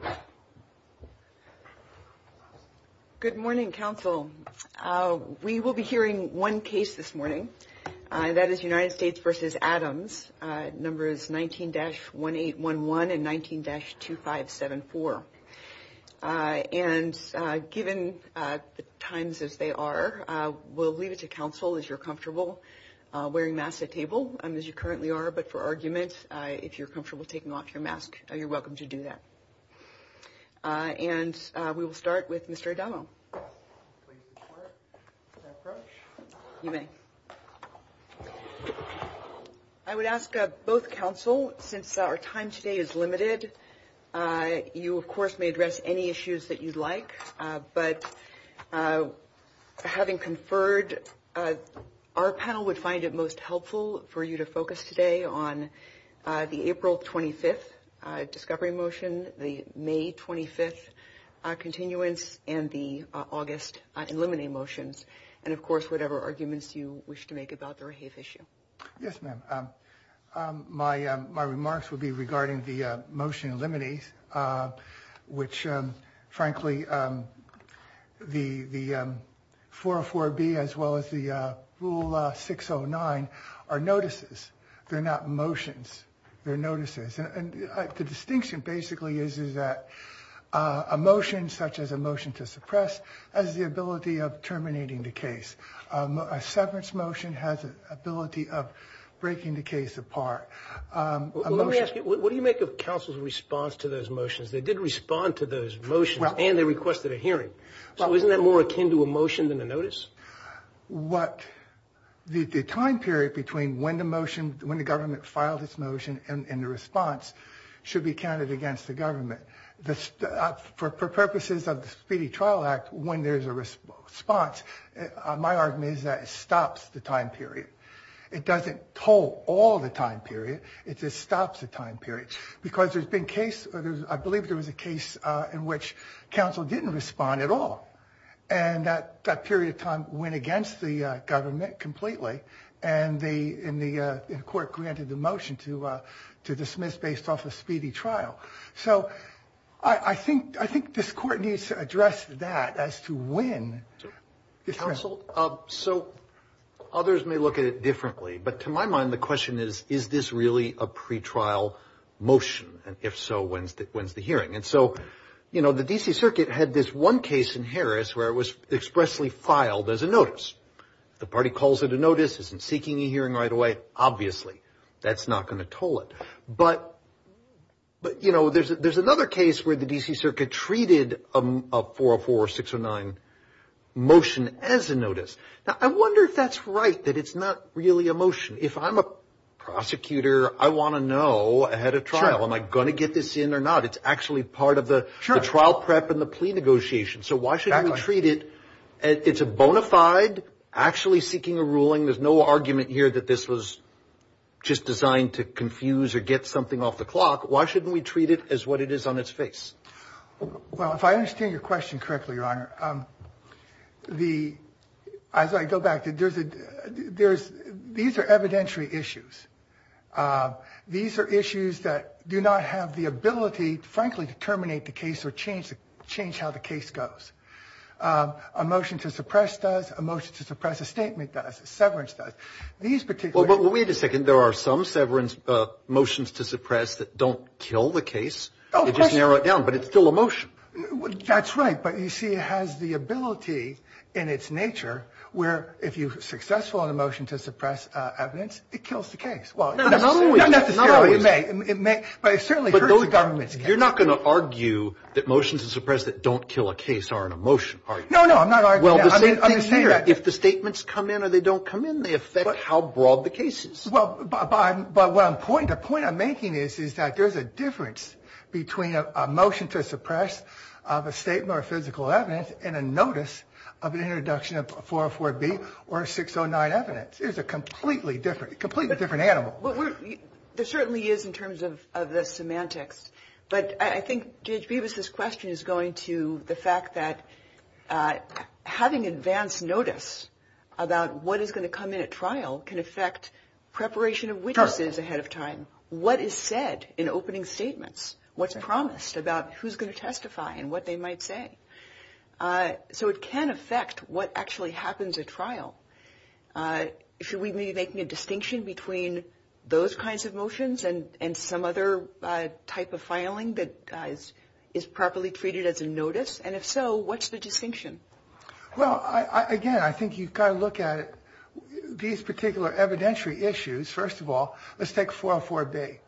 19-1811 and 19-2574. And given the times as they are, we'll leave it to counsel as you're comfortable wearing masks at table as you currently are, but for argument, if you're comfortable taking off your mask, you're welcome to do that. And we will start with Mr. O'Donnell. I would ask both counsel, since our time today is limited, you, of course, may address any issues that you'd like. But having conferred, our panel would find it most helpful for you to focus today on the April 25th discovery motion, the May 25th continuance, and the August eliminate motions. And, of course, whatever arguments you wish to make about the rehave issue. Yes, ma'am. My remarks would be regarding the motion eliminate, which, frankly, the 404B as well as the rule 609 are notices. They're not motions. They're notices. And the distinction basically is that a motion such as a motion to suppress has the ability of terminating the case. A severance motion has the ability of breaking the case apart. Let me ask you, what do you make of counsel's response to those motions? They did respond to those motions and they requested a hearing. So isn't that more akin to a motion than a notice? The time period between when the government filed its motion and the response should be counted against the government. For purposes of the Speedy Trial Act, when there's a response, my argument is that it stops the time period. It doesn't hold all the time period. It just stops the time period. Because there's been cases, I believe there was a case in which counsel didn't respond at all. And that period of time went against the government completely. And the court granted the motion to dismiss based off a speedy trial. So I think this court needs to address that as to when. Counsel, so others may look at it differently. But to my mind, the question is, is this really a pretrial motion? And if so, when's the hearing? And so, you know, the D.C. Circuit had this one case in Harris where it was expressly filed as a notice. The party calls it a notice, isn't seeking a hearing right away. Obviously, that's not going to toll it. But, you know, there's another case where the D.C. Circuit treated a 404 or 609 motion as a notice. Now, I wonder if that's right, that it's not really a motion. If I'm a prosecutor, I want to know ahead of trial, am I going to get this in or not? It's actually part of the trial prep and the plea negotiation. So why shouldn't we treat it? It's a bona fide, actually seeking a ruling. There's no argument here that this was just designed to confuse or get something off the clock. Why shouldn't we treat it as what it is on its face? Well, if I understand your question correctly, Your Honor, the – as I go back, there's – these are evidentiary issues. These are issues that do not have the ability, frankly, to terminate the case or change how the case goes. A motion to suppress does. A motion to suppress a statement does. A severance does. These particular – Well, wait a second. There are some severance motions to suppress that don't kill the case. Of course. They just narrow it down. But it's still a motion. That's right. But, you see, it has the ability in its nature where if you're successful in a motion to suppress evidence, it kills the case. Not always. Not necessarily. It may. But it certainly hurts the government's case. You're not going to argue that motions to suppress that don't kill a case are in a motion, are you? No, no. I'm not arguing that. I'm just saying that if the statements come in or they don't come in, they affect how broad the case is. The point I'm making is that there's a difference between a motion to suppress of a statement or physical evidence and a notice of an introduction of 404B or 609 evidence. It's a completely different animal. There certainly is in terms of the semantics. But I think, Judge Bevis, this question is going to the fact that having advance notice about what is going to come in at trial can affect preparation of witnesses ahead of time. What is said in opening statements? What's promised about who's going to testify and what they might say? So it can affect what actually happens at trial. Should we be making a distinction between those kinds of motions and some other type of filing that is properly treated as a notice? And if so, what's the distinction? Well, again, I think you've got to look at these particular evidentiary issues. First of all, let's take 404B.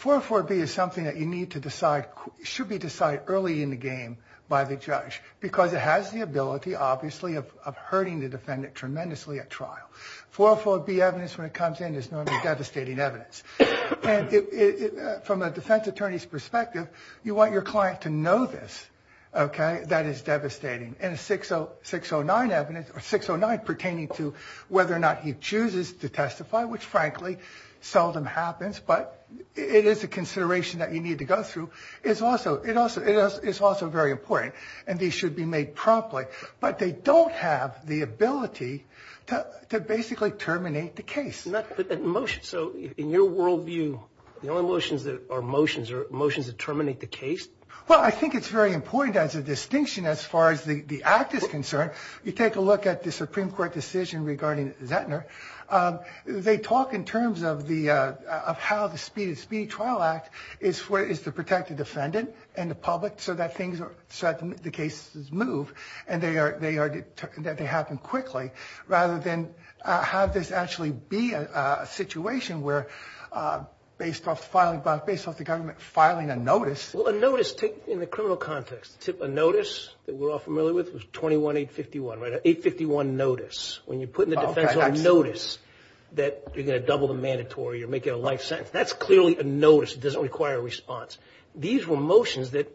404B is something that you need to decide, should be decided early in the game by the judge because it has the ability, obviously, of hurting the defendant tremendously at trial. 404B evidence, when it comes in, is normally devastating evidence. And from a defense attorney's perspective, you want your client to know this, okay, that it's devastating. And 609 evidence, or 609 pertaining to whether or not he chooses to testify, which, frankly, seldom happens, but it is a consideration that you need to go through, is also very important. And these should be made promptly. But they don't have the ability to basically terminate the case. So in your worldview, the only motions that are motions are motions that terminate the case? Well, I think it's very important as a distinction as far as the act is concerned. You take a look at the Supreme Court decision regarding Zettner. They talk in terms of how the Speedy Trial Act is to protect the defendant and the public so that the cases move and that they happen quickly, rather than have this actually be a situation where based off the government filing a notice. Well, a notice, in the criminal context, a notice that we're all familiar with was 21-851, right, an 851 notice. When you put in the defense a notice that you're going to double the mandatory or make it a life sentence, that's clearly a notice. It doesn't require a response. These were motions that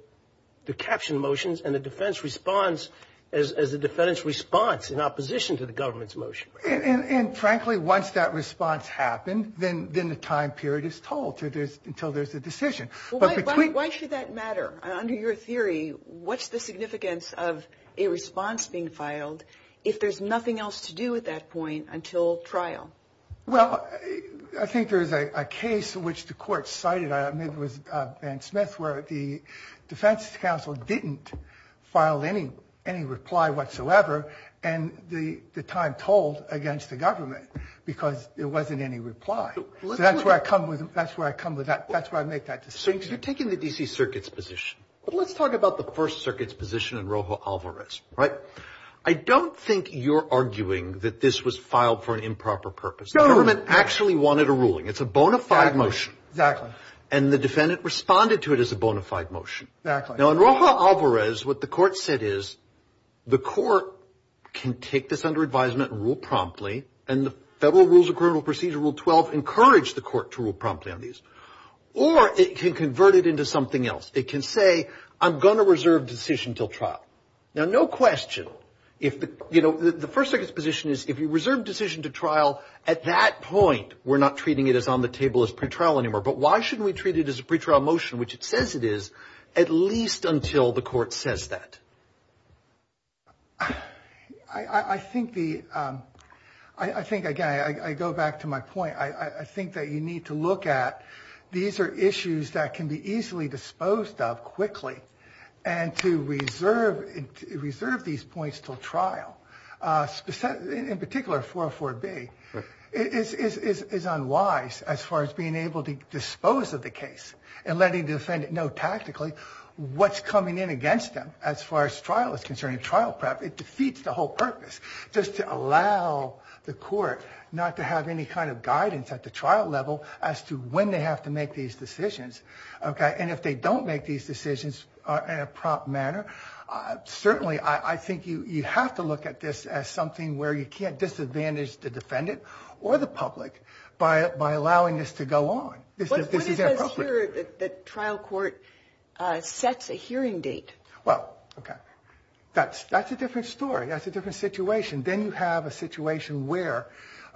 were captioned motions, and the defense responds as the defendant's response in opposition to the government's motion. And, frankly, once that response happened, then the time period is told until there's a decision. Why should that matter? Under your theory, what's the significance of a response being filed if there's nothing else to do at that point until trial? Well, I think there's a case in which the court cited, I believe it was Van Smith, where the defense counsel didn't file any reply whatsoever, and the time told against the government because there wasn't any reply. So that's where I come with that. That's where I make that decision. So you're taking the D.C. Circuit's position, but let's talk about the First Circuit's position in Rojo Alvarez, right? I don't think you're arguing that this was filed for an improper purpose. No. The government actually wanted a ruling. It's a bona fide motion. Exactly. And the defendant responded to it as a bona fide motion. Exactly. Now, in Rojo Alvarez, what the court said is the court can take this under advisement and rule promptly, and the Federal Rules of Criminal Procedure Rule 12 encouraged the court to rule promptly on these. Or it can convert it into something else. It can say, I'm going to reserve decision until trial. Now, no question, you know, the First Circuit's position is if you reserve decision to trial at that point, we're not treating it as on the table as pretrial anymore. But why shouldn't we treat it as a pretrial motion, which it says it is, at least until the court says that? I think the ‑‑ I think, again, I go back to my point. I think that you need to look at these are issues that can be easily disposed of quickly, and to reserve these points until trial, in particular 404B, is unwise as far as being able to dispose of the case and letting the defendant know tactically what's coming in against them as far as trial is concerned. In trial prep, it defeats the whole purpose just to allow the court not to have any kind of guidance at the trial level as to when they have to make these decisions, okay? And if they don't make these decisions in a prompt manner, certainly I think you have to look at this as something where you can't disadvantage the defendant or the public by allowing this to go on. This is inappropriate. But what if it says here that trial court sets a hearing date? Well, okay, that's a different story. That's a different situation. Then you have a situation where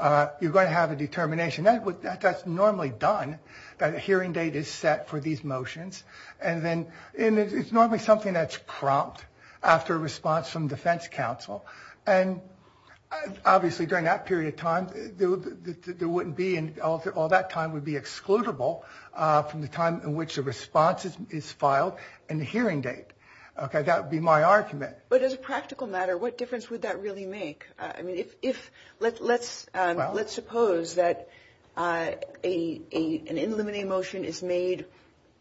you're going to have a determination. That's normally done, that a hearing date is set for these motions. And then it's normally something that's prompt after a response from defense counsel. And obviously during that period of time, there wouldn't be and all that time would be excludable from the time in which the response is filed and the hearing date. Okay, that would be my argument. But as a practical matter, what difference would that really make? I mean, let's suppose that an in limine motion is made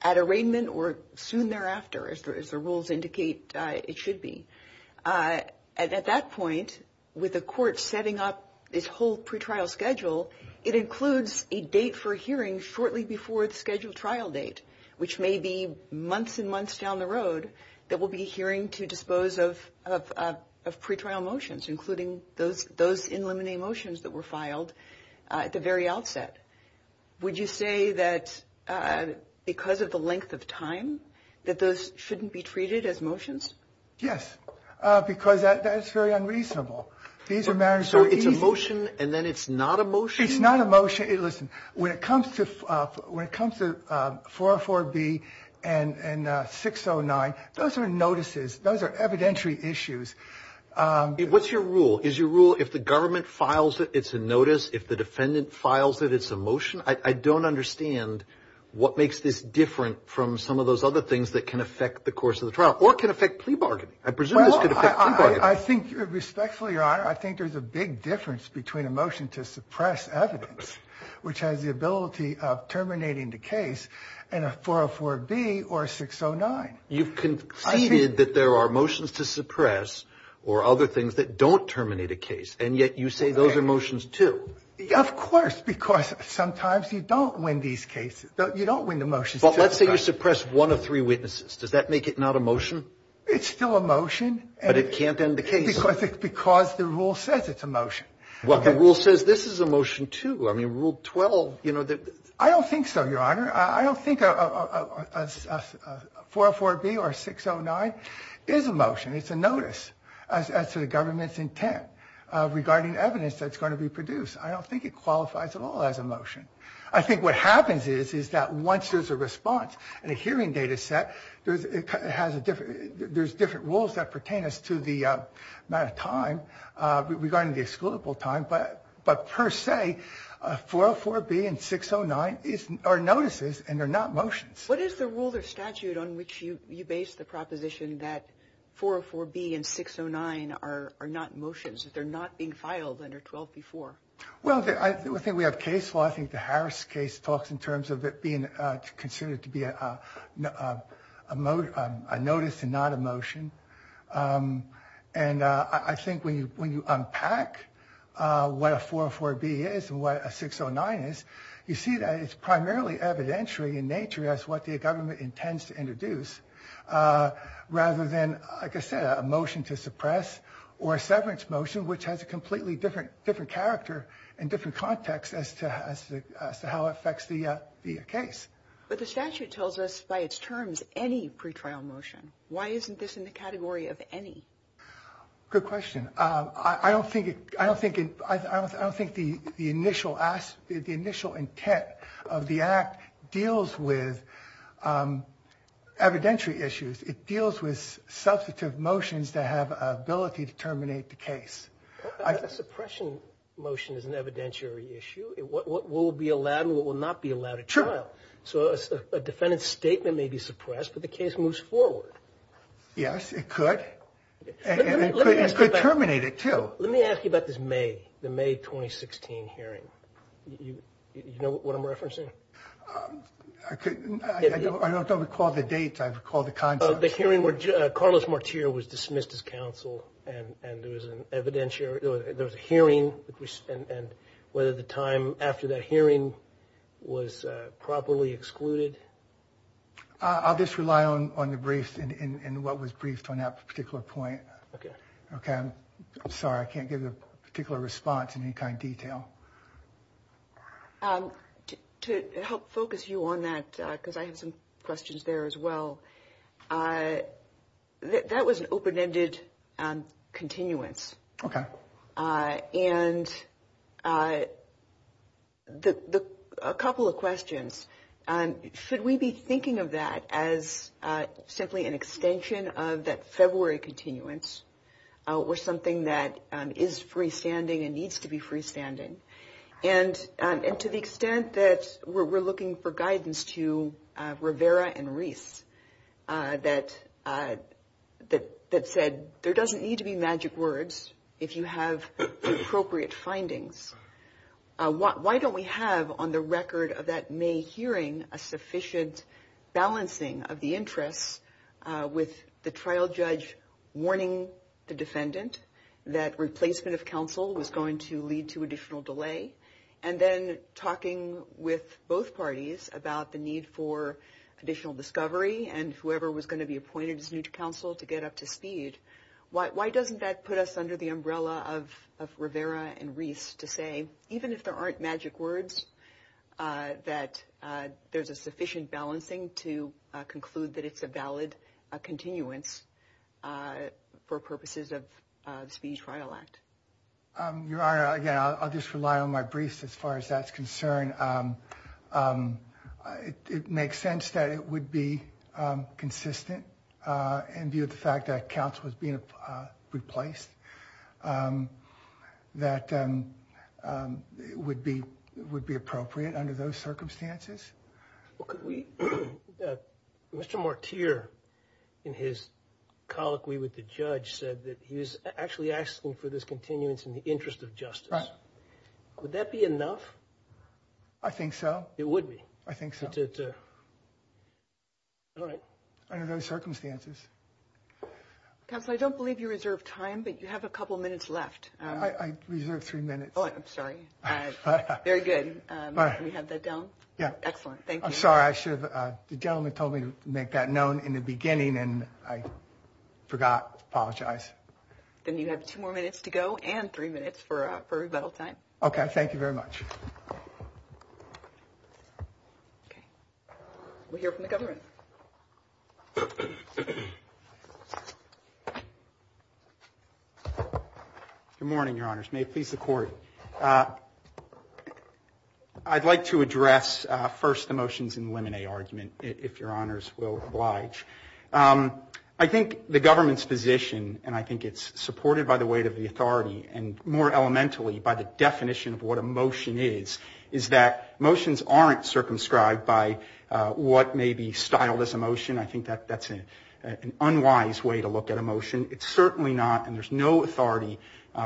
at arraignment or soon thereafter, as the rules indicate it should be. At that point, with the court setting up this whole pretrial schedule, it includes a date for hearing shortly before the scheduled trial date, which may be months and months down the road that we'll be hearing to dispose of pretrial motions, including those in limine motions that were filed at the very outset. Would you say that because of the length of time that those shouldn't be treated as motions? Yes, because that's very unreasonable. So it's a motion and then it's not a motion? It's not a motion. Listen, when it comes to 404B and 609, those are notices. Those are evidentiary issues. What's your rule? Is your rule if the government files it, it's a notice? If the defendant files it, it's a motion? I don't understand what makes this different from some of those other things that can affect the course of the trial or can affect plea bargaining. I presume this could affect plea bargaining. I think respectfully, Your Honor, I think there's a big difference between a motion to suppress evidence, which has the ability of terminating the case, and a 404B or a 609. You've conceded that there are motions to suppress or other things that don't terminate a case, and yet you say those are motions, too. Of course, because sometimes you don't win these cases. You don't win the motions. But let's say you suppress one of three witnesses. Does that make it not a motion? It's still a motion. But it can't end the case. Because the rule says it's a motion. Well, the rule says this is a motion, too. I mean, Rule 12, you know. I don't think so, Your Honor. I don't think a 404B or a 609 is a motion. It's a notice as to the government's intent regarding evidence that's going to be produced. I don't think it qualifies at all as a motion. I think what happens is that once there's a response in a hearing data set, there's different rules that pertain as to the amount of time regarding the excludable time. But per se, 404B and 609 are notices, and they're not motions. What is the rule or statute on which you base the proposition that 404B and 609 are not motions, that they're not being filed under 12B4? Well, I think we have case law. I think the Harris case talks in terms of it being considered to be a notice and not a motion. And I think when you unpack what a 404B is and what a 609 is, you see that it's primarily evidentiary in nature as what the government intends to introduce, rather than, like I said, a motion to suppress or a severance motion, which has a completely different character and different context as to how it affects the case. But the statute tells us by its terms any pretrial motion. Why isn't this in the category of any? Good question. I don't think the initial intent of the Act deals with evidentiary issues. It deals with substantive motions that have an ability to terminate the case. A suppression motion is an evidentiary issue. What will be allowed and what will not be allowed at trial. So a defendant's statement may be suppressed, but the case moves forward. Yes, it could. And it could terminate it, too. Let me ask you about this May, the May 2016 hearing. Do you know what I'm referencing? I don't recall the dates. I recall the context. The hearing where Carlos Martir was dismissed as counsel and there was an evidentiary, there was a hearing and whether the time after that hearing was properly excluded. I'll just rely on the brief and what was briefed on that particular point. Okay. I'm sorry, I can't give a particular response in any kind of detail. To help focus you on that, because I have some questions there as well, that was an open-ended continuance. Okay. And a couple of questions. Should we be thinking of that as simply an extension of that February continuance or something that is freestanding and needs to be freestanding? And to the extent that we're looking for guidance to Rivera and Reese that said, there doesn't need to be magic words if you have appropriate findings. Why don't we have on the record of that May hearing a sufficient balancing of the interests with the trial judge warning the defendant that replacement of counsel was going to lead to additional delay, and then talking with both parties about the need for additional discovery and whoever was going to be appointed as new counsel to get up to speed. Why doesn't that put us under the umbrella of Rivera and Reese to say, even if there aren't magic words, that there's a sufficient balancing to conclude that it's a valid continuance for purposes of the Speedy Trial Act? Your Honor, again, I'll just rely on my briefs as far as that's concerned. It makes sense that it would be consistent in view of the fact that counsel was being replaced. That would be appropriate under those circumstances. Mr. Mortier, in his colloquy with the judge, said that he was actually asking for this continuance in the interest of justice. Right. Would that be enough? I think so. It would be? I think so. All right. Under those circumstances. Counsel, I don't believe you reserved time, but you have a couple minutes left. I reserved three minutes. Oh, I'm sorry. All right. Very good. Can we have that down? Yeah. Excellent. Thank you. I'm sorry. The gentleman told me to make that known in the beginning, and I forgot. I apologize. Then you have two more minutes to go and three minutes for rebuttal time. Okay. Thank you very much. Okay. We'll hear from the government. Good morning, Your Honors. May it please the Court. I'd like to address first the motions in the lemonade argument, if Your Honors will oblige. I think the government's position, and I think it's supported by the weight of the authority, and more elementally by the definition of what a motion is, is that motions aren't circumscribed by what may be styled as a motion. I think that's an unwise way to look at a motion. It's certainly not, and there's no authority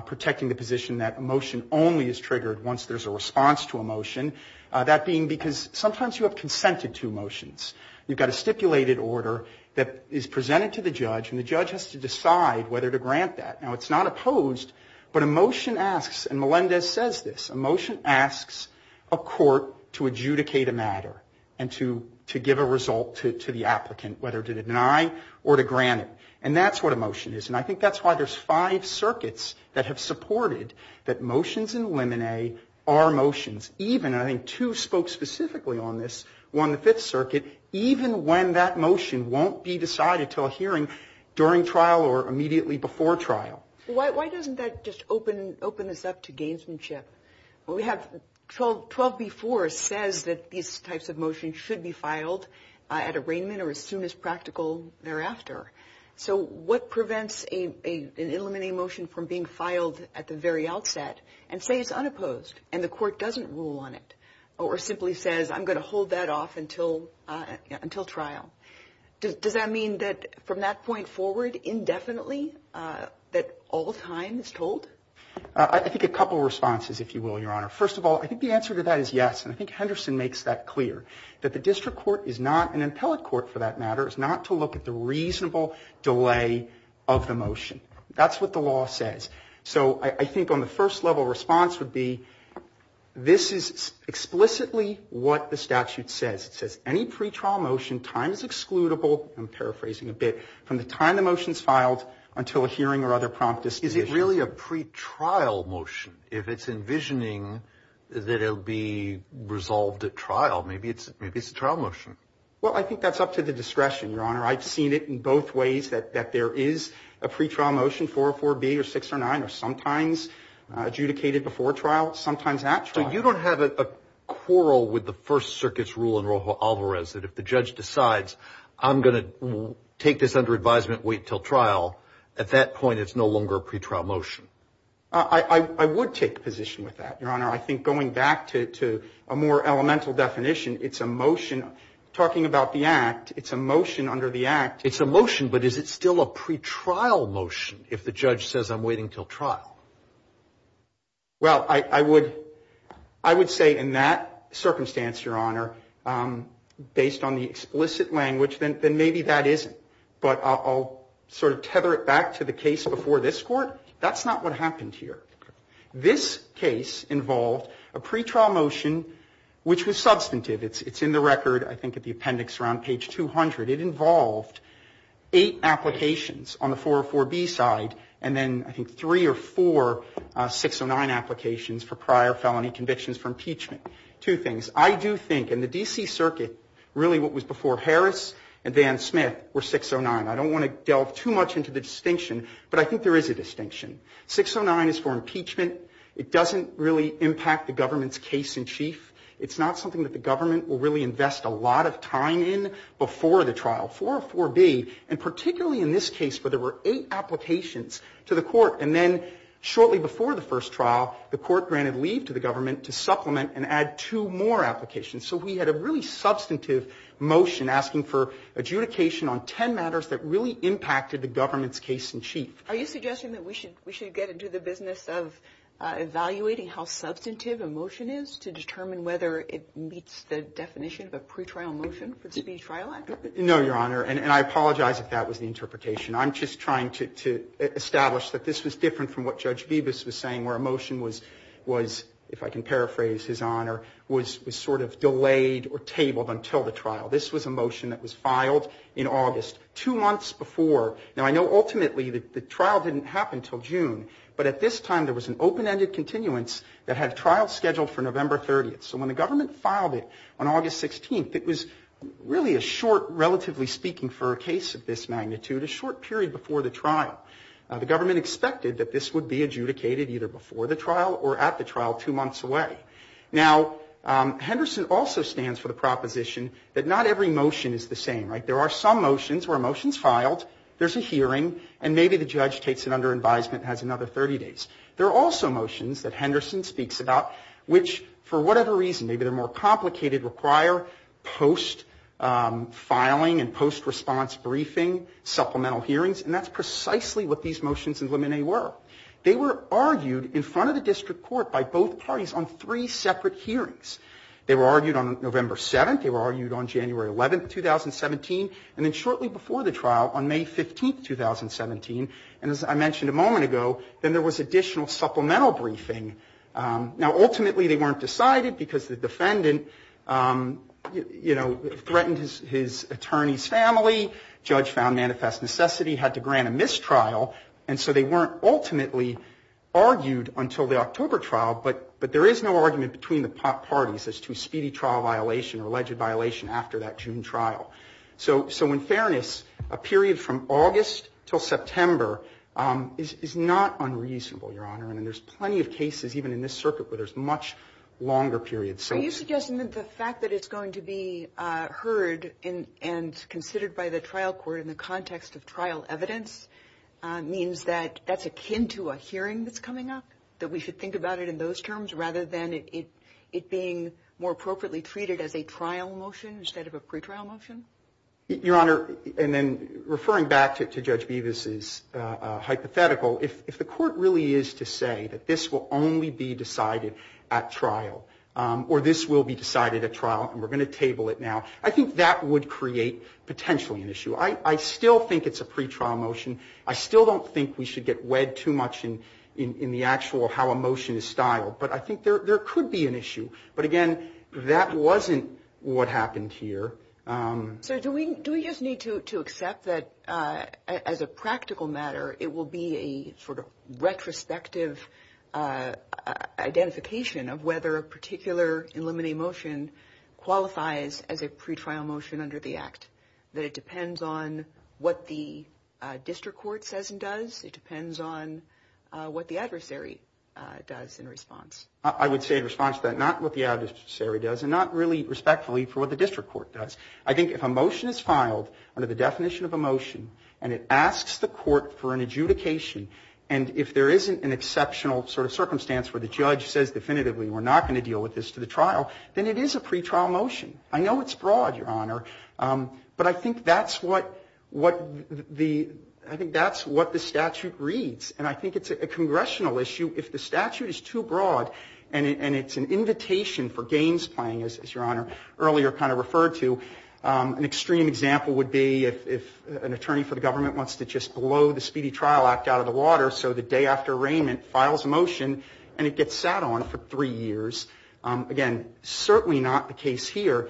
protecting the position that a motion only is triggered once there's a response to a motion. That being because sometimes you have consented to motions. You've got a stipulated order that is presented to the judge, and the judge has to decide whether to grant that. Now, it's not opposed, but a motion asks, and Melendez says this, a motion asks a court to adjudicate a matter, and to give a result to the applicant, whether to deny or to grant it, and that's what a motion is. And I think that's why there's five circuits that have supported that motions in the lemonade are motions, even, and I think two spoke specifically on this, one, the Fifth Circuit, even when that motion won't be decided until a hearing during trial or immediately before trial. Why doesn't that just open this up to gamesmanship? We have 12B4 says that these types of motions should be filed at arraignment or as soon as practical thereafter. So what prevents an eliminating motion from being filed at the very outset, and say it's unopposed, and the court doesn't rule on it, or simply says I'm going to hold that off until trial? Does that mean that from that point forward, indefinitely, that all time is told? I think a couple of responses, if you will, Your Honor. First of all, I think the answer to that is yes, and I think Henderson makes that clear, that the district court is not, an appellate court for that matter, is not to look at the reasonable delay of the motion. That's what the law says. So I think on the first level, response would be this is explicitly what the statute says. It says any pretrial motion, time is excludable, I'm paraphrasing a bit, from the time the motion is filed until a hearing or other prompt decision. Is it really a pretrial motion if it's envisioning that it will be resolved at trial? Maybe it's a trial motion. Well, I think that's up to the discretion, Your Honor. I've seen it in both ways, that there is a pretrial motion, 404B or 609, or sometimes adjudicated before trial, sometimes at trial. So you don't have a quarrel with the First Circuit's rule in Rojo Alvarez that if the judge decides I'm going to take this under advisement, wait until trial, at that point it's no longer a pretrial motion. I would take a position with that, Your Honor. I think going back to a more elemental definition, it's a motion. Talking about the Act, it's a motion under the Act. It's a motion, but is it still a pretrial motion if the judge says I'm waiting until trial? Well, I would say in that circumstance, Your Honor, based on the explicit language, then maybe that isn't. But I'll sort of tether it back to the case before this Court. That's not what happened here. This case involved a pretrial motion which was substantive. It's in the record, I think at the appendix around page 200. It involved eight applications on the 404B side, and then I think three or four 609 applications for prior felony convictions for impeachment. Two things. I do think in the D.C. Circuit, really what was before Harris and Dan Smith were 609. I don't want to delve too much into the distinction, but I think there is a distinction. 609 is for impeachment. It doesn't really impact the government's case in chief. It's not something that the government will really invest a lot of time in before the trial. 404B, and particularly in this case where there were eight applications to the Court, and then shortly before the first trial, the Court granted leave to the government to supplement and add two more applications. So we had a really substantive motion asking for adjudication on ten matters that really impacted the government's case in chief. Are you suggesting that we should get into the business of evaluating how substantive a motion is to determine whether it meets the definition of a pretrial motion for the Speedy Trial Act? No, Your Honor, and I apologize if that was the interpretation. I'm just trying to establish that this was different from what Judge Bibas was saying, where a motion was, if I can paraphrase His Honor, was sort of delayed or tabled until the trial. This was a motion that was filed in August, two months before. Now, I know ultimately the trial didn't happen until June, but at this time there was an open-ended continuance that had trials scheduled for November 30th. So when the government filed it on August 16th, it was really a short, relatively speaking for a case of this magnitude, a short period before the trial. The government expected that this would be adjudicated either before the trial or at the trial two months away. Now, Henderson also stands for the proposition that not every motion is the same, right? There are some motions where a motion's filed, there's a hearing, and maybe the judge takes it under advisement and has another 30 days. There are also motions that Henderson speaks about which, for whatever reason, maybe they're more complicated, require post-filing and post-response briefing, supplemental hearings. And that's precisely what these motions and limine were. They were argued in front of the district court by both parties on three separate hearings. They were argued on November 7th, they were argued on January 11th, 2017, and then shortly before the trial, on May 15th, 2017, and as I mentioned a moment ago, then there was additional supplemental briefing. Now, ultimately they weren't decided because the defendant, you know, threatened his attorney's family, judge found manifest necessity, had to grant a mistrial, and so they weren't ultimately argued until the October trial, but there is no argument between the parties as to speedy trial violation or alleged violation after that June trial. So in fairness, a period from August until September is not unreasonable, Your Honor, and there's plenty of cases even in this circuit where there's much longer periods. Are you suggesting that the fact that it's going to be heard and considered by the trial court in the context of trial evidence means that that's akin to a hearing that's coming up, that we should think about it in those terms rather than it being more appropriately treated as a trial motion instead of a pretrial motion? Your Honor, and then referring back to Judge Bevis's hypothetical, if the court really is to say that this will only be decided at trial or this will be decided at trial and we're going to table it now, I think that would create potentially an issue. I still think it's a pretrial motion. I still don't think we should get wed too much in the actual how a motion is styled, but I think there could be an issue, but again, that wasn't what happened here. So do we just need to accept that as a practical matter, it will be a sort of retrospective identification of whether a particular eliminating motion qualifies as a pretrial motion under the Act, that it depends on what the district court says and does, I would say in response to that, not what the adversary does and not really respectfully for what the district court does. I think if a motion is filed under the definition of a motion and it asks the court for an adjudication and if there isn't an exceptional sort of circumstance where the judge says definitively, we're not going to deal with this to the trial, then it is a pretrial motion. I know it's broad, Your Honor, but I think that's what the statute reads, and I think it's a congressional issue. If the statute is too broad and it's an invitation for games playing, as Your Honor earlier kind of referred to, an extreme example would be if an attorney for the government wants to just blow the Speedy Trial Act out of the water so the day after arraignment files a motion and it gets sat on for three years. Again, certainly not the case here.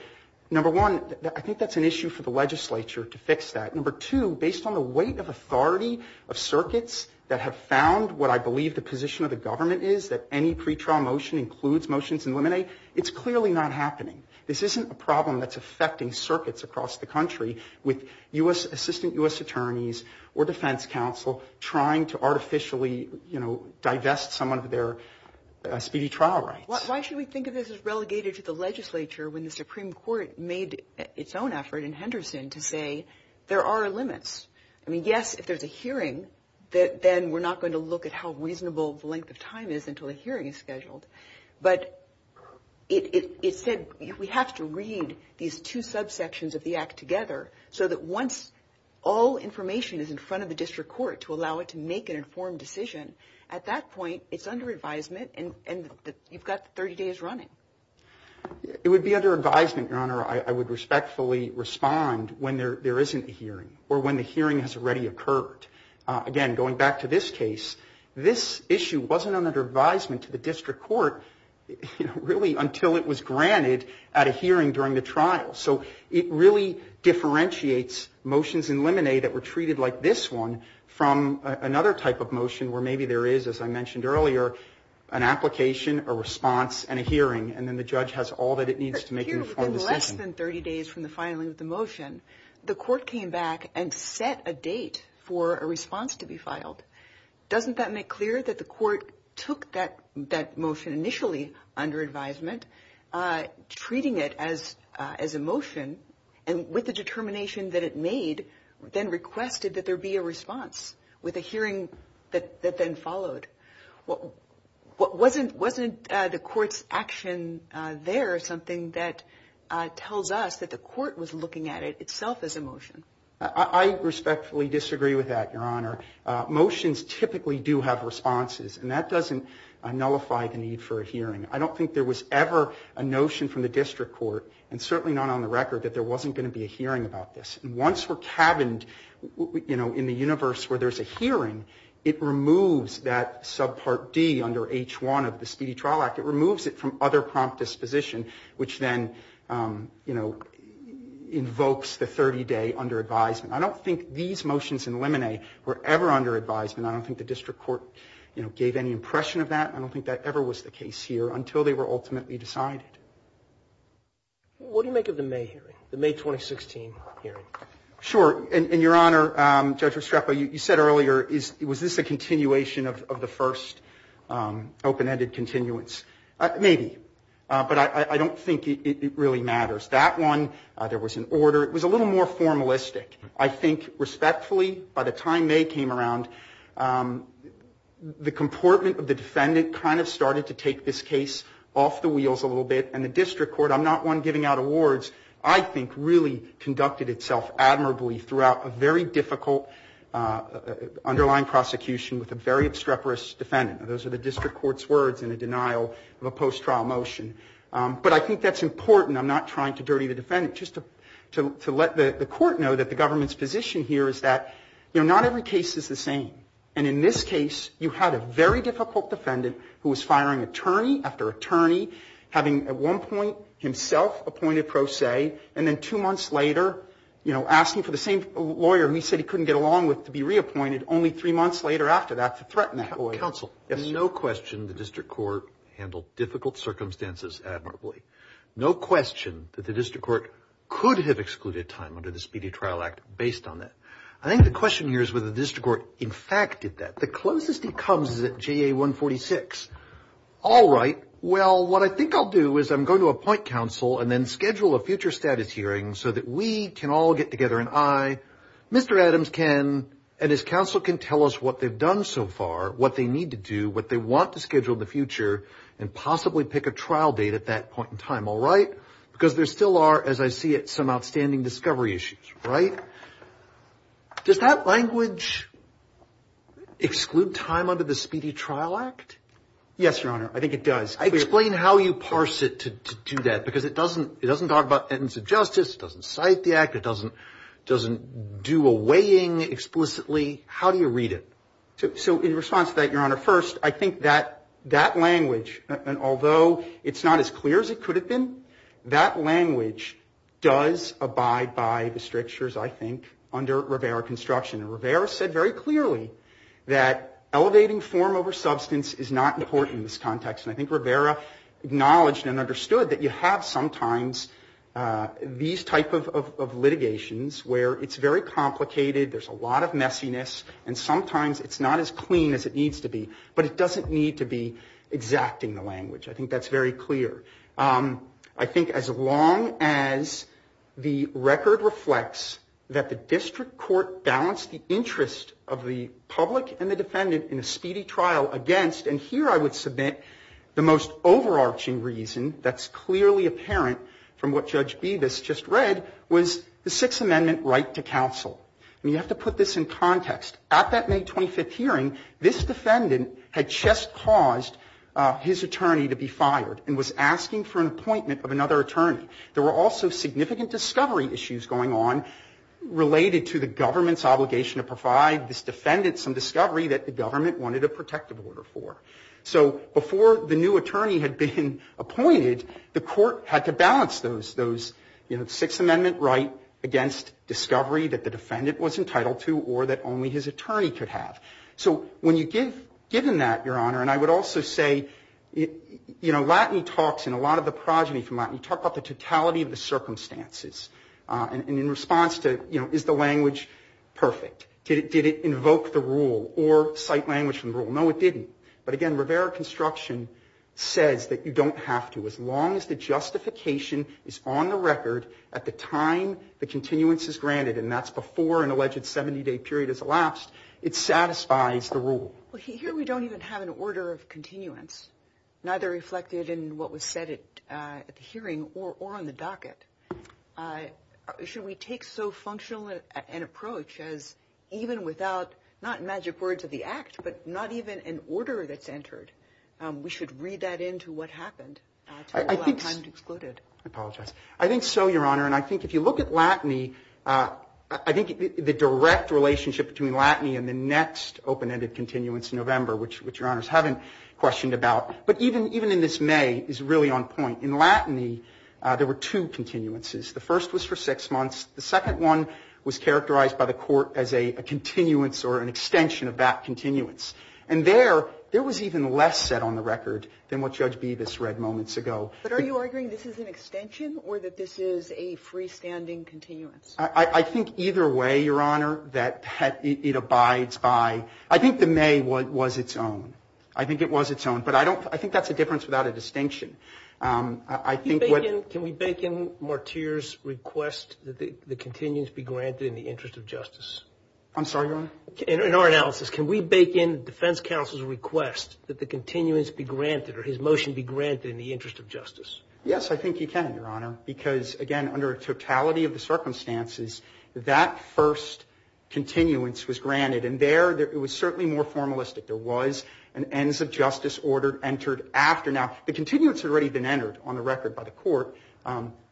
Number one, I think that's an issue for the legislature to fix that. Number two, based on the weight of authority of circuits that have found what I believe the position of the government is, that any pretrial motion includes motions in limine, it's clearly not happening. This isn't a problem that's affecting circuits across the country with U.S. assistant U.S. attorneys or defense counsel trying to artificially, you know, divest some of their speedy trial rights. Why should we think of this as relegated to the legislature when the Supreme Court made its own effort in Henderson to say there are limits? I mean, yes, if there's a hearing, then we're not going to look at how reasonable the length of time is until the hearing is scheduled, but it said we have to read these two subsections of the act together so that once all information is in front of the district court to allow it to make an informed decision, at that point it's under advisement and you've got 30 days running. It would be under advisement, Your Honor. I would respectfully respond when there isn't a hearing or when the hearing has already occurred. Again, going back to this case, this issue wasn't under advisement to the district court, you know, really until it was granted at a hearing during the trial. So it really differentiates motions in Lemonade that were treated like this one from another type of motion where maybe there is, as I mentioned earlier, an application, a response, and a hearing, and then the judge has all that it needs to make an informed decision. But here within less than 30 days from the filing of the motion, the court came back and set a date for a response to be filed. Doesn't that make clear that the court took that motion initially under advisement, treating it as a motion, and with the determination that it made, then requested that there be a response with a hearing that then followed? Wasn't the court's action there something that tells us that the court was looking at it itself as a motion? I respectfully disagree with that, Your Honor. Motions typically do have responses, and that doesn't nullify the need for a hearing. I don't think there was ever a notion from the district court, and certainly not on the record, that there wasn't going to be a hearing about this. And once we're cabined, you know, in the universe where there's a hearing, it removes that subpart D under H1 of the Speedy Trial Act. It removes it from other prompt disposition, which then, you know, invokes the 30-day under advisement. I don't think these motions in Lemonet were ever under advisement. I don't think the district court, you know, gave any impression of that. I don't think that ever was the case here until they were ultimately decided. What do you make of the May hearing, the May 2016 hearing? Sure. And, Your Honor, Judge Restrepo, you said earlier, was this a continuation of the first open-ended continuance? Maybe. But I don't think it really matters. That one, there was an order. It was a little more formalistic. I think, respectfully, by the time May came around, the comportment of the defendant kind of started to take this case off the wheels a little bit, and the district court, I'm not one giving out awards, I think really conducted itself admirably throughout a very difficult underlying prosecution with a very obstreperous defendant. Those are the district court's words in a denial of a post-trial motion. But I think that's important. I'm not trying to dirty the defendant. Just to let the court know that the government's position here is that, you know, not every case is the same. And in this case, you had a very difficult defendant who was firing attorney after attorney, having at one point himself appointed pro se, and then two months later, you know, asking for the same lawyer who he said he couldn't get along with to be reappointed only three months later after that to threaten that lawyer. Counsel. Yes. There's no question the district court handled difficult circumstances admirably. No question that the district court could have excluded time under the Speedy Trial Act based on that. I think the question here is whether the district court in fact did that. The closest it comes is at JA 146. All right. Well, what I think I'll do is I'm going to appoint counsel and then schedule a future status hearing so that we can all get together and I, Mr. Adams can, and his counsel can tell us what they've done so far, what they need to do, what they want to schedule in the future, and possibly pick a trial date at that point in time. All right? Because there still are, as I see it, some outstanding discovery issues. Right? Does that language exclude time under the Speedy Trial Act? Yes, Your Honor. I think it does. Explain how you parse it to do that because it doesn't talk about evidence of justice. It doesn't cite the act. It doesn't do a weighing explicitly. How do you read it? So in response to that, Your Honor, first, I think that language, and although it's not as clear as it could have been, that language does abide by the Constitution, I think, under Rivera construction. And Rivera said very clearly that elevating form over substance is not important in this context. And I think Rivera acknowledged and understood that you have sometimes these type of litigations where it's very complicated, there's a lot of messiness, and sometimes it's not as clean as it needs to be. But it doesn't need to be exacting the language. I think that's very clear. I think as long as the record reflects that the district court balanced the interest of the public and the defendant in a speedy trial against, and here I would submit the most overarching reason that's clearly apparent from what Judge Bevis just read was the Sixth Amendment right to counsel. And you have to put this in context. At that May 25th hearing, this defendant had just caused his attorney to be fired and was asking for an appointment of another attorney. There were also significant discovery issues going on related to the government's obligation to provide this defendant some discovery that the government wanted a protective order for. So before the new attorney had been appointed, the court had to balance those, you know, Sixth Amendment right against discovery that the defendant was entitled to or that only his attorney could have. So when you're given that, Your Honor, and I would also say, you know, Latin talks and a lot of the progeny from Latin talk about the totality of the circumstances. And in response to, you know, is the language perfect? Did it invoke the rule or cite language from the rule? No, it didn't. But again, Rivera construction says that you don't have to as long as the justification is on the record at the time the continuance is granted, and that's before an alleged 70-day period is elapsed, it satisfies the rule. Well, here we don't even have an order of continuance, neither reflected in what was said at the hearing or on the docket. Should we take so functional an approach as even without not magic words of the act, but not even an order that's entered? We should read that into what happened to allow time to exclude it. I apologize. I think so, Your Honor. And I think if you look at LATINI, I think the direct relationship between LATINI and the next open-ended continuance in November, which Your Honors haven't questioned about, but even in this May is really on point. In LATINI, there were two continuances. The first was for six months. The second one was characterized by the Court as a continuance or an extension of that continuance. And there, there was even less set on the record than what Judge Bevis read moments ago. But are you arguing this is an extension or that this is a freestanding continuance? I think either way, Your Honor, that it abides by. I think the May was its own. I think it was its own. But I don't, I think that's a difference without a distinction. I think what... Can we bake in Mortier's request that the continuance be granted in the interest of justice? I'm sorry, Your Honor? In our analysis, can we bake in the defense counsel's request that the continuance be granted or his motion be granted in the interest of justice? Yes, I think you can, Your Honor. Because, again, under a totality of the circumstances, that first continuance was granted. And there, it was certainly more formalistic. There was an ends of justice order entered after. Now, the continuance had already been entered on the record by the Court.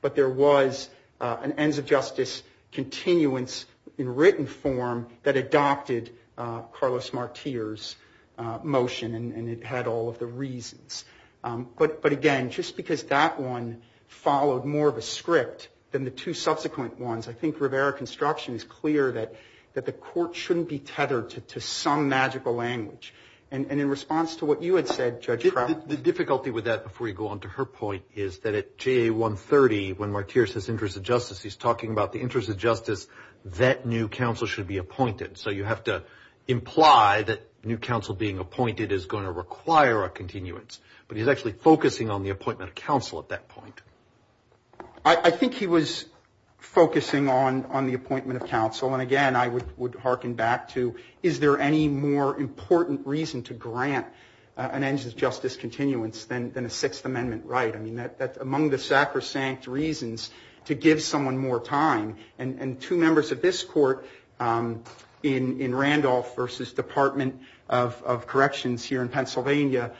But there was an ends of justice continuance in written form that adopted Carlos Mortier's motion. And it had all of the reasons. But, again, just because that one followed more of a script than the two subsequent ones, I think Rivera Construction is clear that the Court shouldn't be tethered to some magical language. And in response to what you had said, Judge Crowley... The difficulty with that, before you go on to her point, is that at JA130, when Mortier says interest of justice, he's talking about the interest of justice that new counsel should be appointed. So you have to imply that new counsel being appointed is going to require a continuance. But he's actually focusing on the appointment of counsel at that point. I think he was focusing on the appointment of counsel. And, again, I would hearken back to, is there any more important reason to grant an ends of justice continuance than a Sixth Amendment right? I mean, that's among the sacrosanct reasons to give someone more time. And two members of this Court, in Randolph versus Department of Corrections here in Pennsylvania,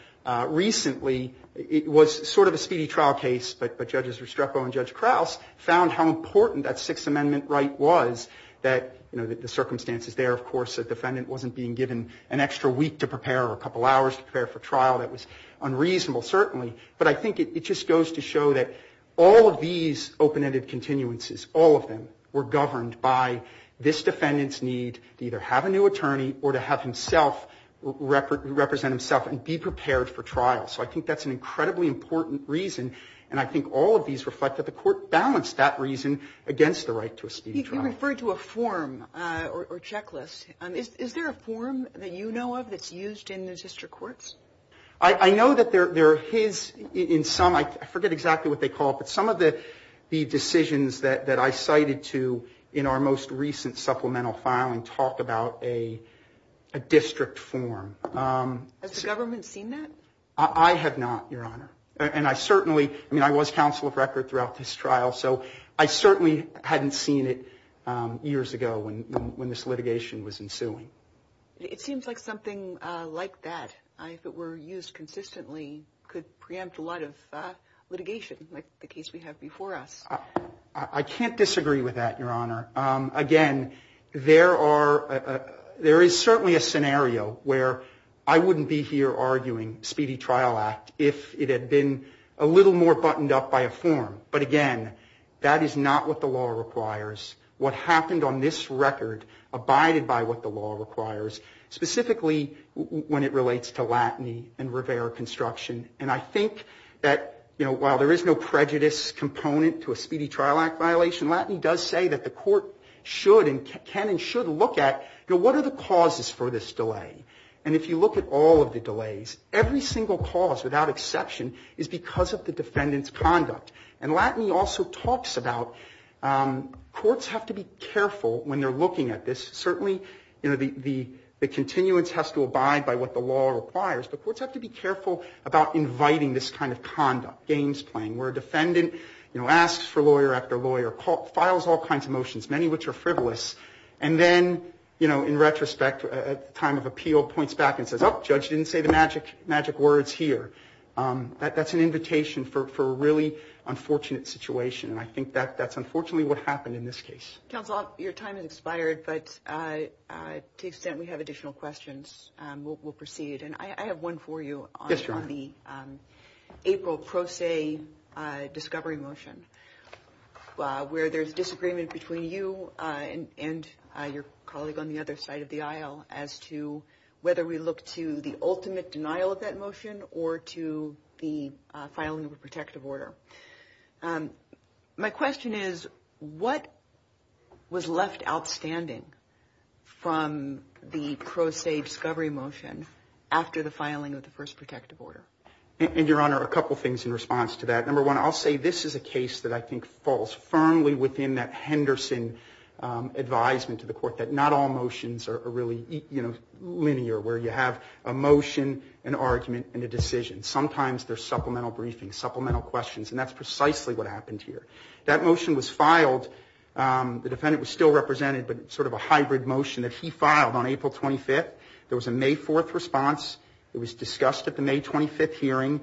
recently, it was sort of a speedy trial case, but Judges Restrepo and Judge Krause found how important that Sixth Amendment right was, that the circumstances there, of course, a defendant wasn't being given an extra week to prepare or a couple hours to prepare for trial. That was unreasonable, certainly. But I think it just goes to show that all of these open-ended continuances, all of them, were governed by this defendant's need to either have a new attorney or to have himself represent himself and be prepared for trial. So I think that's an incredibly important reason, and I think all of these reflect that the Court balanced that reason against the right to a speedy trial. You referred to a form or checklist. Is there a form that you know of that's used in the district courts? I know that there are his, in some, I forget exactly what they call it, but some of the decisions that I cited to in our most recent supplemental filing talk about a district form. Has the government seen that? I have not, Your Honor. And I certainly, I mean, I was counsel of record throughout this trial, so I certainly hadn't seen it years ago when this litigation was ensuing. It seems like something like that, if it were used consistently, could preempt a I can't disagree with that, Your Honor. Again, there are, there is certainly a scenario where I wouldn't be here arguing speedy trial act if it had been a little more buttoned up by a form. But again, that is not what the law requires. What happened on this record abided by what the law requires, specifically when it relates to Latney and Rivera construction. And I think that while there is no prejudice component to a speedy trial act violation, Latney does say that the court should and can and should look at what are the causes for this delay? And if you look at all of the delays, every single cause without exception is because of the defendant's conduct. And Latney also talks about courts have to be careful when they're looking at this. Certainly the continuance has to abide by what the law requires, but courts have to be careful about inviting this kind of conduct, games playing, where a defendant, you know, asks for lawyer after lawyer, files all kinds of motions, many of which are frivolous, and then, you know, in retrospect, at the time of appeal, points back and says, oh, judge didn't say the magic words here. That's an invitation for a really unfortunate situation, and I think that's unfortunately what happened in this case. Counsel, your time has expired, but to the extent we have additional questions, we'll proceed. And I have one for you on the April pro se discovery motion, where there's disagreement between you and your colleague on the other side of the aisle as to whether we look to the ultimate denial of that motion or to the filing of a protective order. My question is, what was left outstanding from the pro se discovery motion after the filing of the first protective order? And, Your Honor, a couple things in response to that. Number one, I'll say this is a case that I think falls firmly within that Henderson advisement to the court that not all motions are really, you know, linear, where you have a motion, an argument, and a decision. Sometimes there's supplemental briefings, supplemental questions, and that's precisely what happened here. That motion was filed. The defendant was still represented, but sort of a hybrid motion that he filed on April 25th. There was a May 4th response. It was discussed at the May 25th hearing.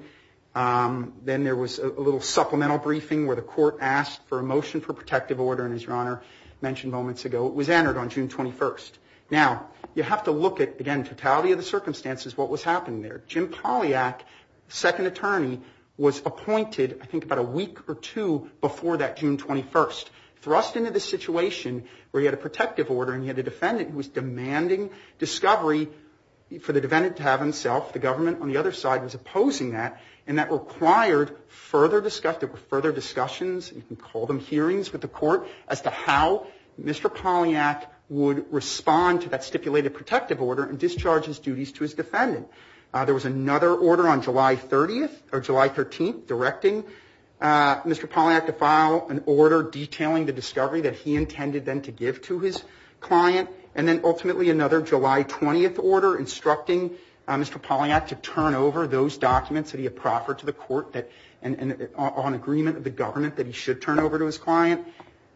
Then there was a little supplemental briefing where the court asked for a motion for protective order, and as Your Honor mentioned moments ago, it was entered on June 21st. Now, you have to look at, again, totality of the circumstances, what was happening there. Jim Polyak, second attorney, was appointed I think about a week or two before that June 21st. Thrust into the situation where he had a protective order and he had a defendant who was demanding discovery for the defendant to have himself. The government on the other side was opposing that, and that required further discussion. There were further discussions. You can call them hearings with the court as to how Mr. Polyak would respond to that stipulated protective order and discharge his duties to his defendant. There was another order on July 30th or July 13th directing Mr. Polyak to file an agreement with the government that he should turn over to his client, and then ultimately another July 20th order instructing Mr. Polyak to turn over those documents that he had proffered to the court on agreement of the government that he should turn over to his client.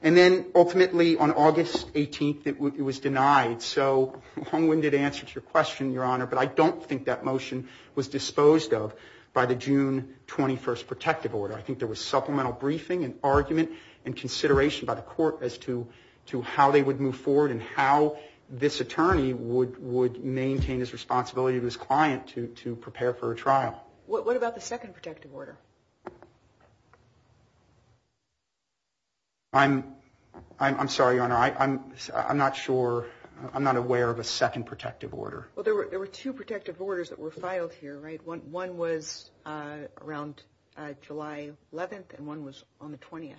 And then ultimately on August 18th, it was denied. So a long-winded answer to your question, Your Honor, but I don't think that motion was disposed of by the June 21st protective order. I think there was supplemental briefing and argument and consideration by the court as to how they would move forward and how this attorney would maintain his responsibility to his client to prepare for a trial. What about the second protective order? I'm sorry, Your Honor. I'm not sure. I'm not aware of a second protective order. Well, there were two protective orders that were filed here, right? One was around July 11th and one was on the 20th.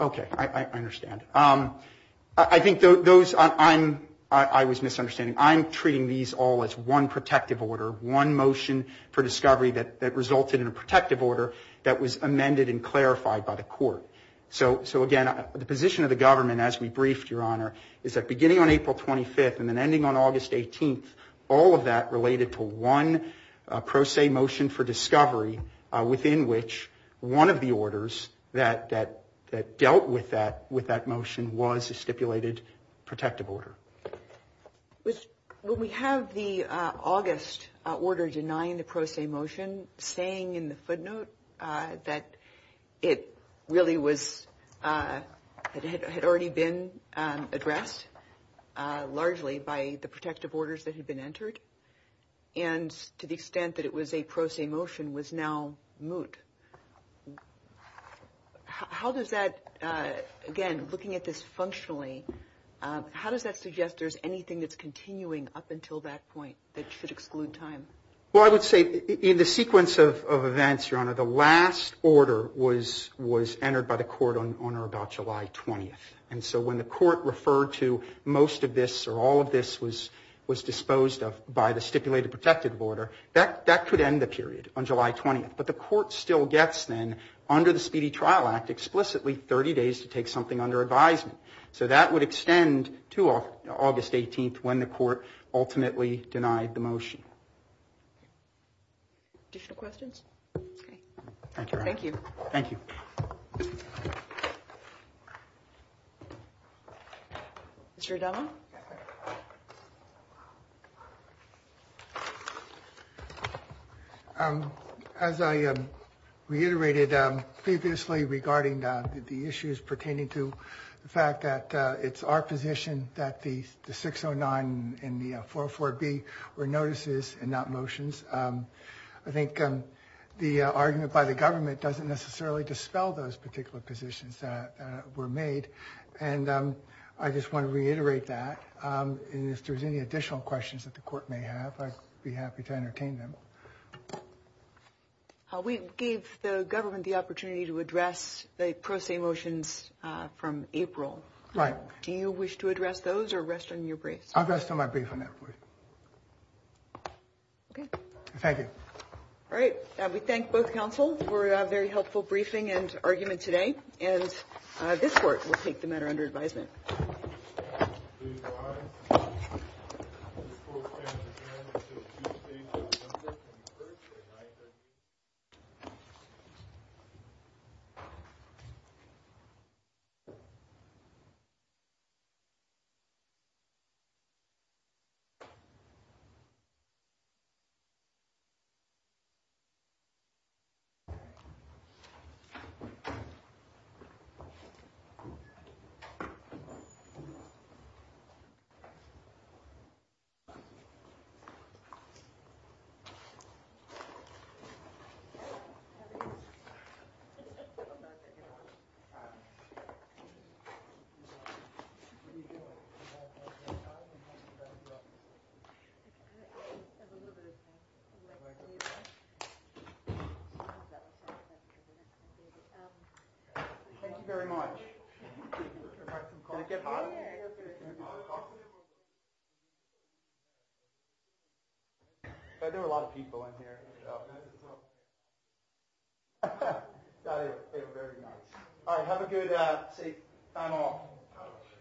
Okay. I understand. I think those, I'm, I was misunderstanding. I'm treating these all as one protective order, one motion for discovery that resulted in a protective order that was amended and clarified by the court. So, again, the position of the government as we briefed, Your Honor, is that beginning on April 25th and then ending on August 18th, all of that related to one pro se motion for discovery within which one of the orders that dealt with that motion was a stipulated protective order. When we have the August order denying the pro se motion, saying in the footnote that it really was, that it had already been addressed largely by the protective orders that had been entered and to the extent that it was a pro se motion was now moot. How does that, again, looking at this functionally, how does that suggest there's anything that's continuing up until that point that should exclude time? Well, I would say in the sequence of events, Your Honor, the last order was entered by the court on or about July 20th. And so when the court referred to most of this or all of this was disposed of by the stipulated protective order, that could end the period on July 20th. But the court still gets then under the Speedy Trial Act explicitly 30 days to take something under advisement. So that would extend to August 18th when the court ultimately denied the motion. Additional questions? Okay. Thank you, Your Honor. Thank you. Thank you. Mr. Adama? As I reiterated previously regarding the issues pertaining to the fact that it's our position that the 609 and the 404B were notices and not motions. I think the argument by the government doesn't necessarily dispel those particular positions that were made. And I just want to reiterate that. And if there's any additional questions that the court may have, I'd be happy to entertain them. We gave the government the opportunity to address the pro se motions from April. Right. Do you wish to address those or rest on your briefs? I'll rest on my brief on that, please. Okay. Thank you. All right. We thank both counsel for a very helpful briefing and argument today. And this Court will take the matter under advisement. Thank you. Thank you very much. Did it get hot? There were a lot of people in here. That is very nice. All right. Have a good seat and all. Thank you. Thank you. Thank you.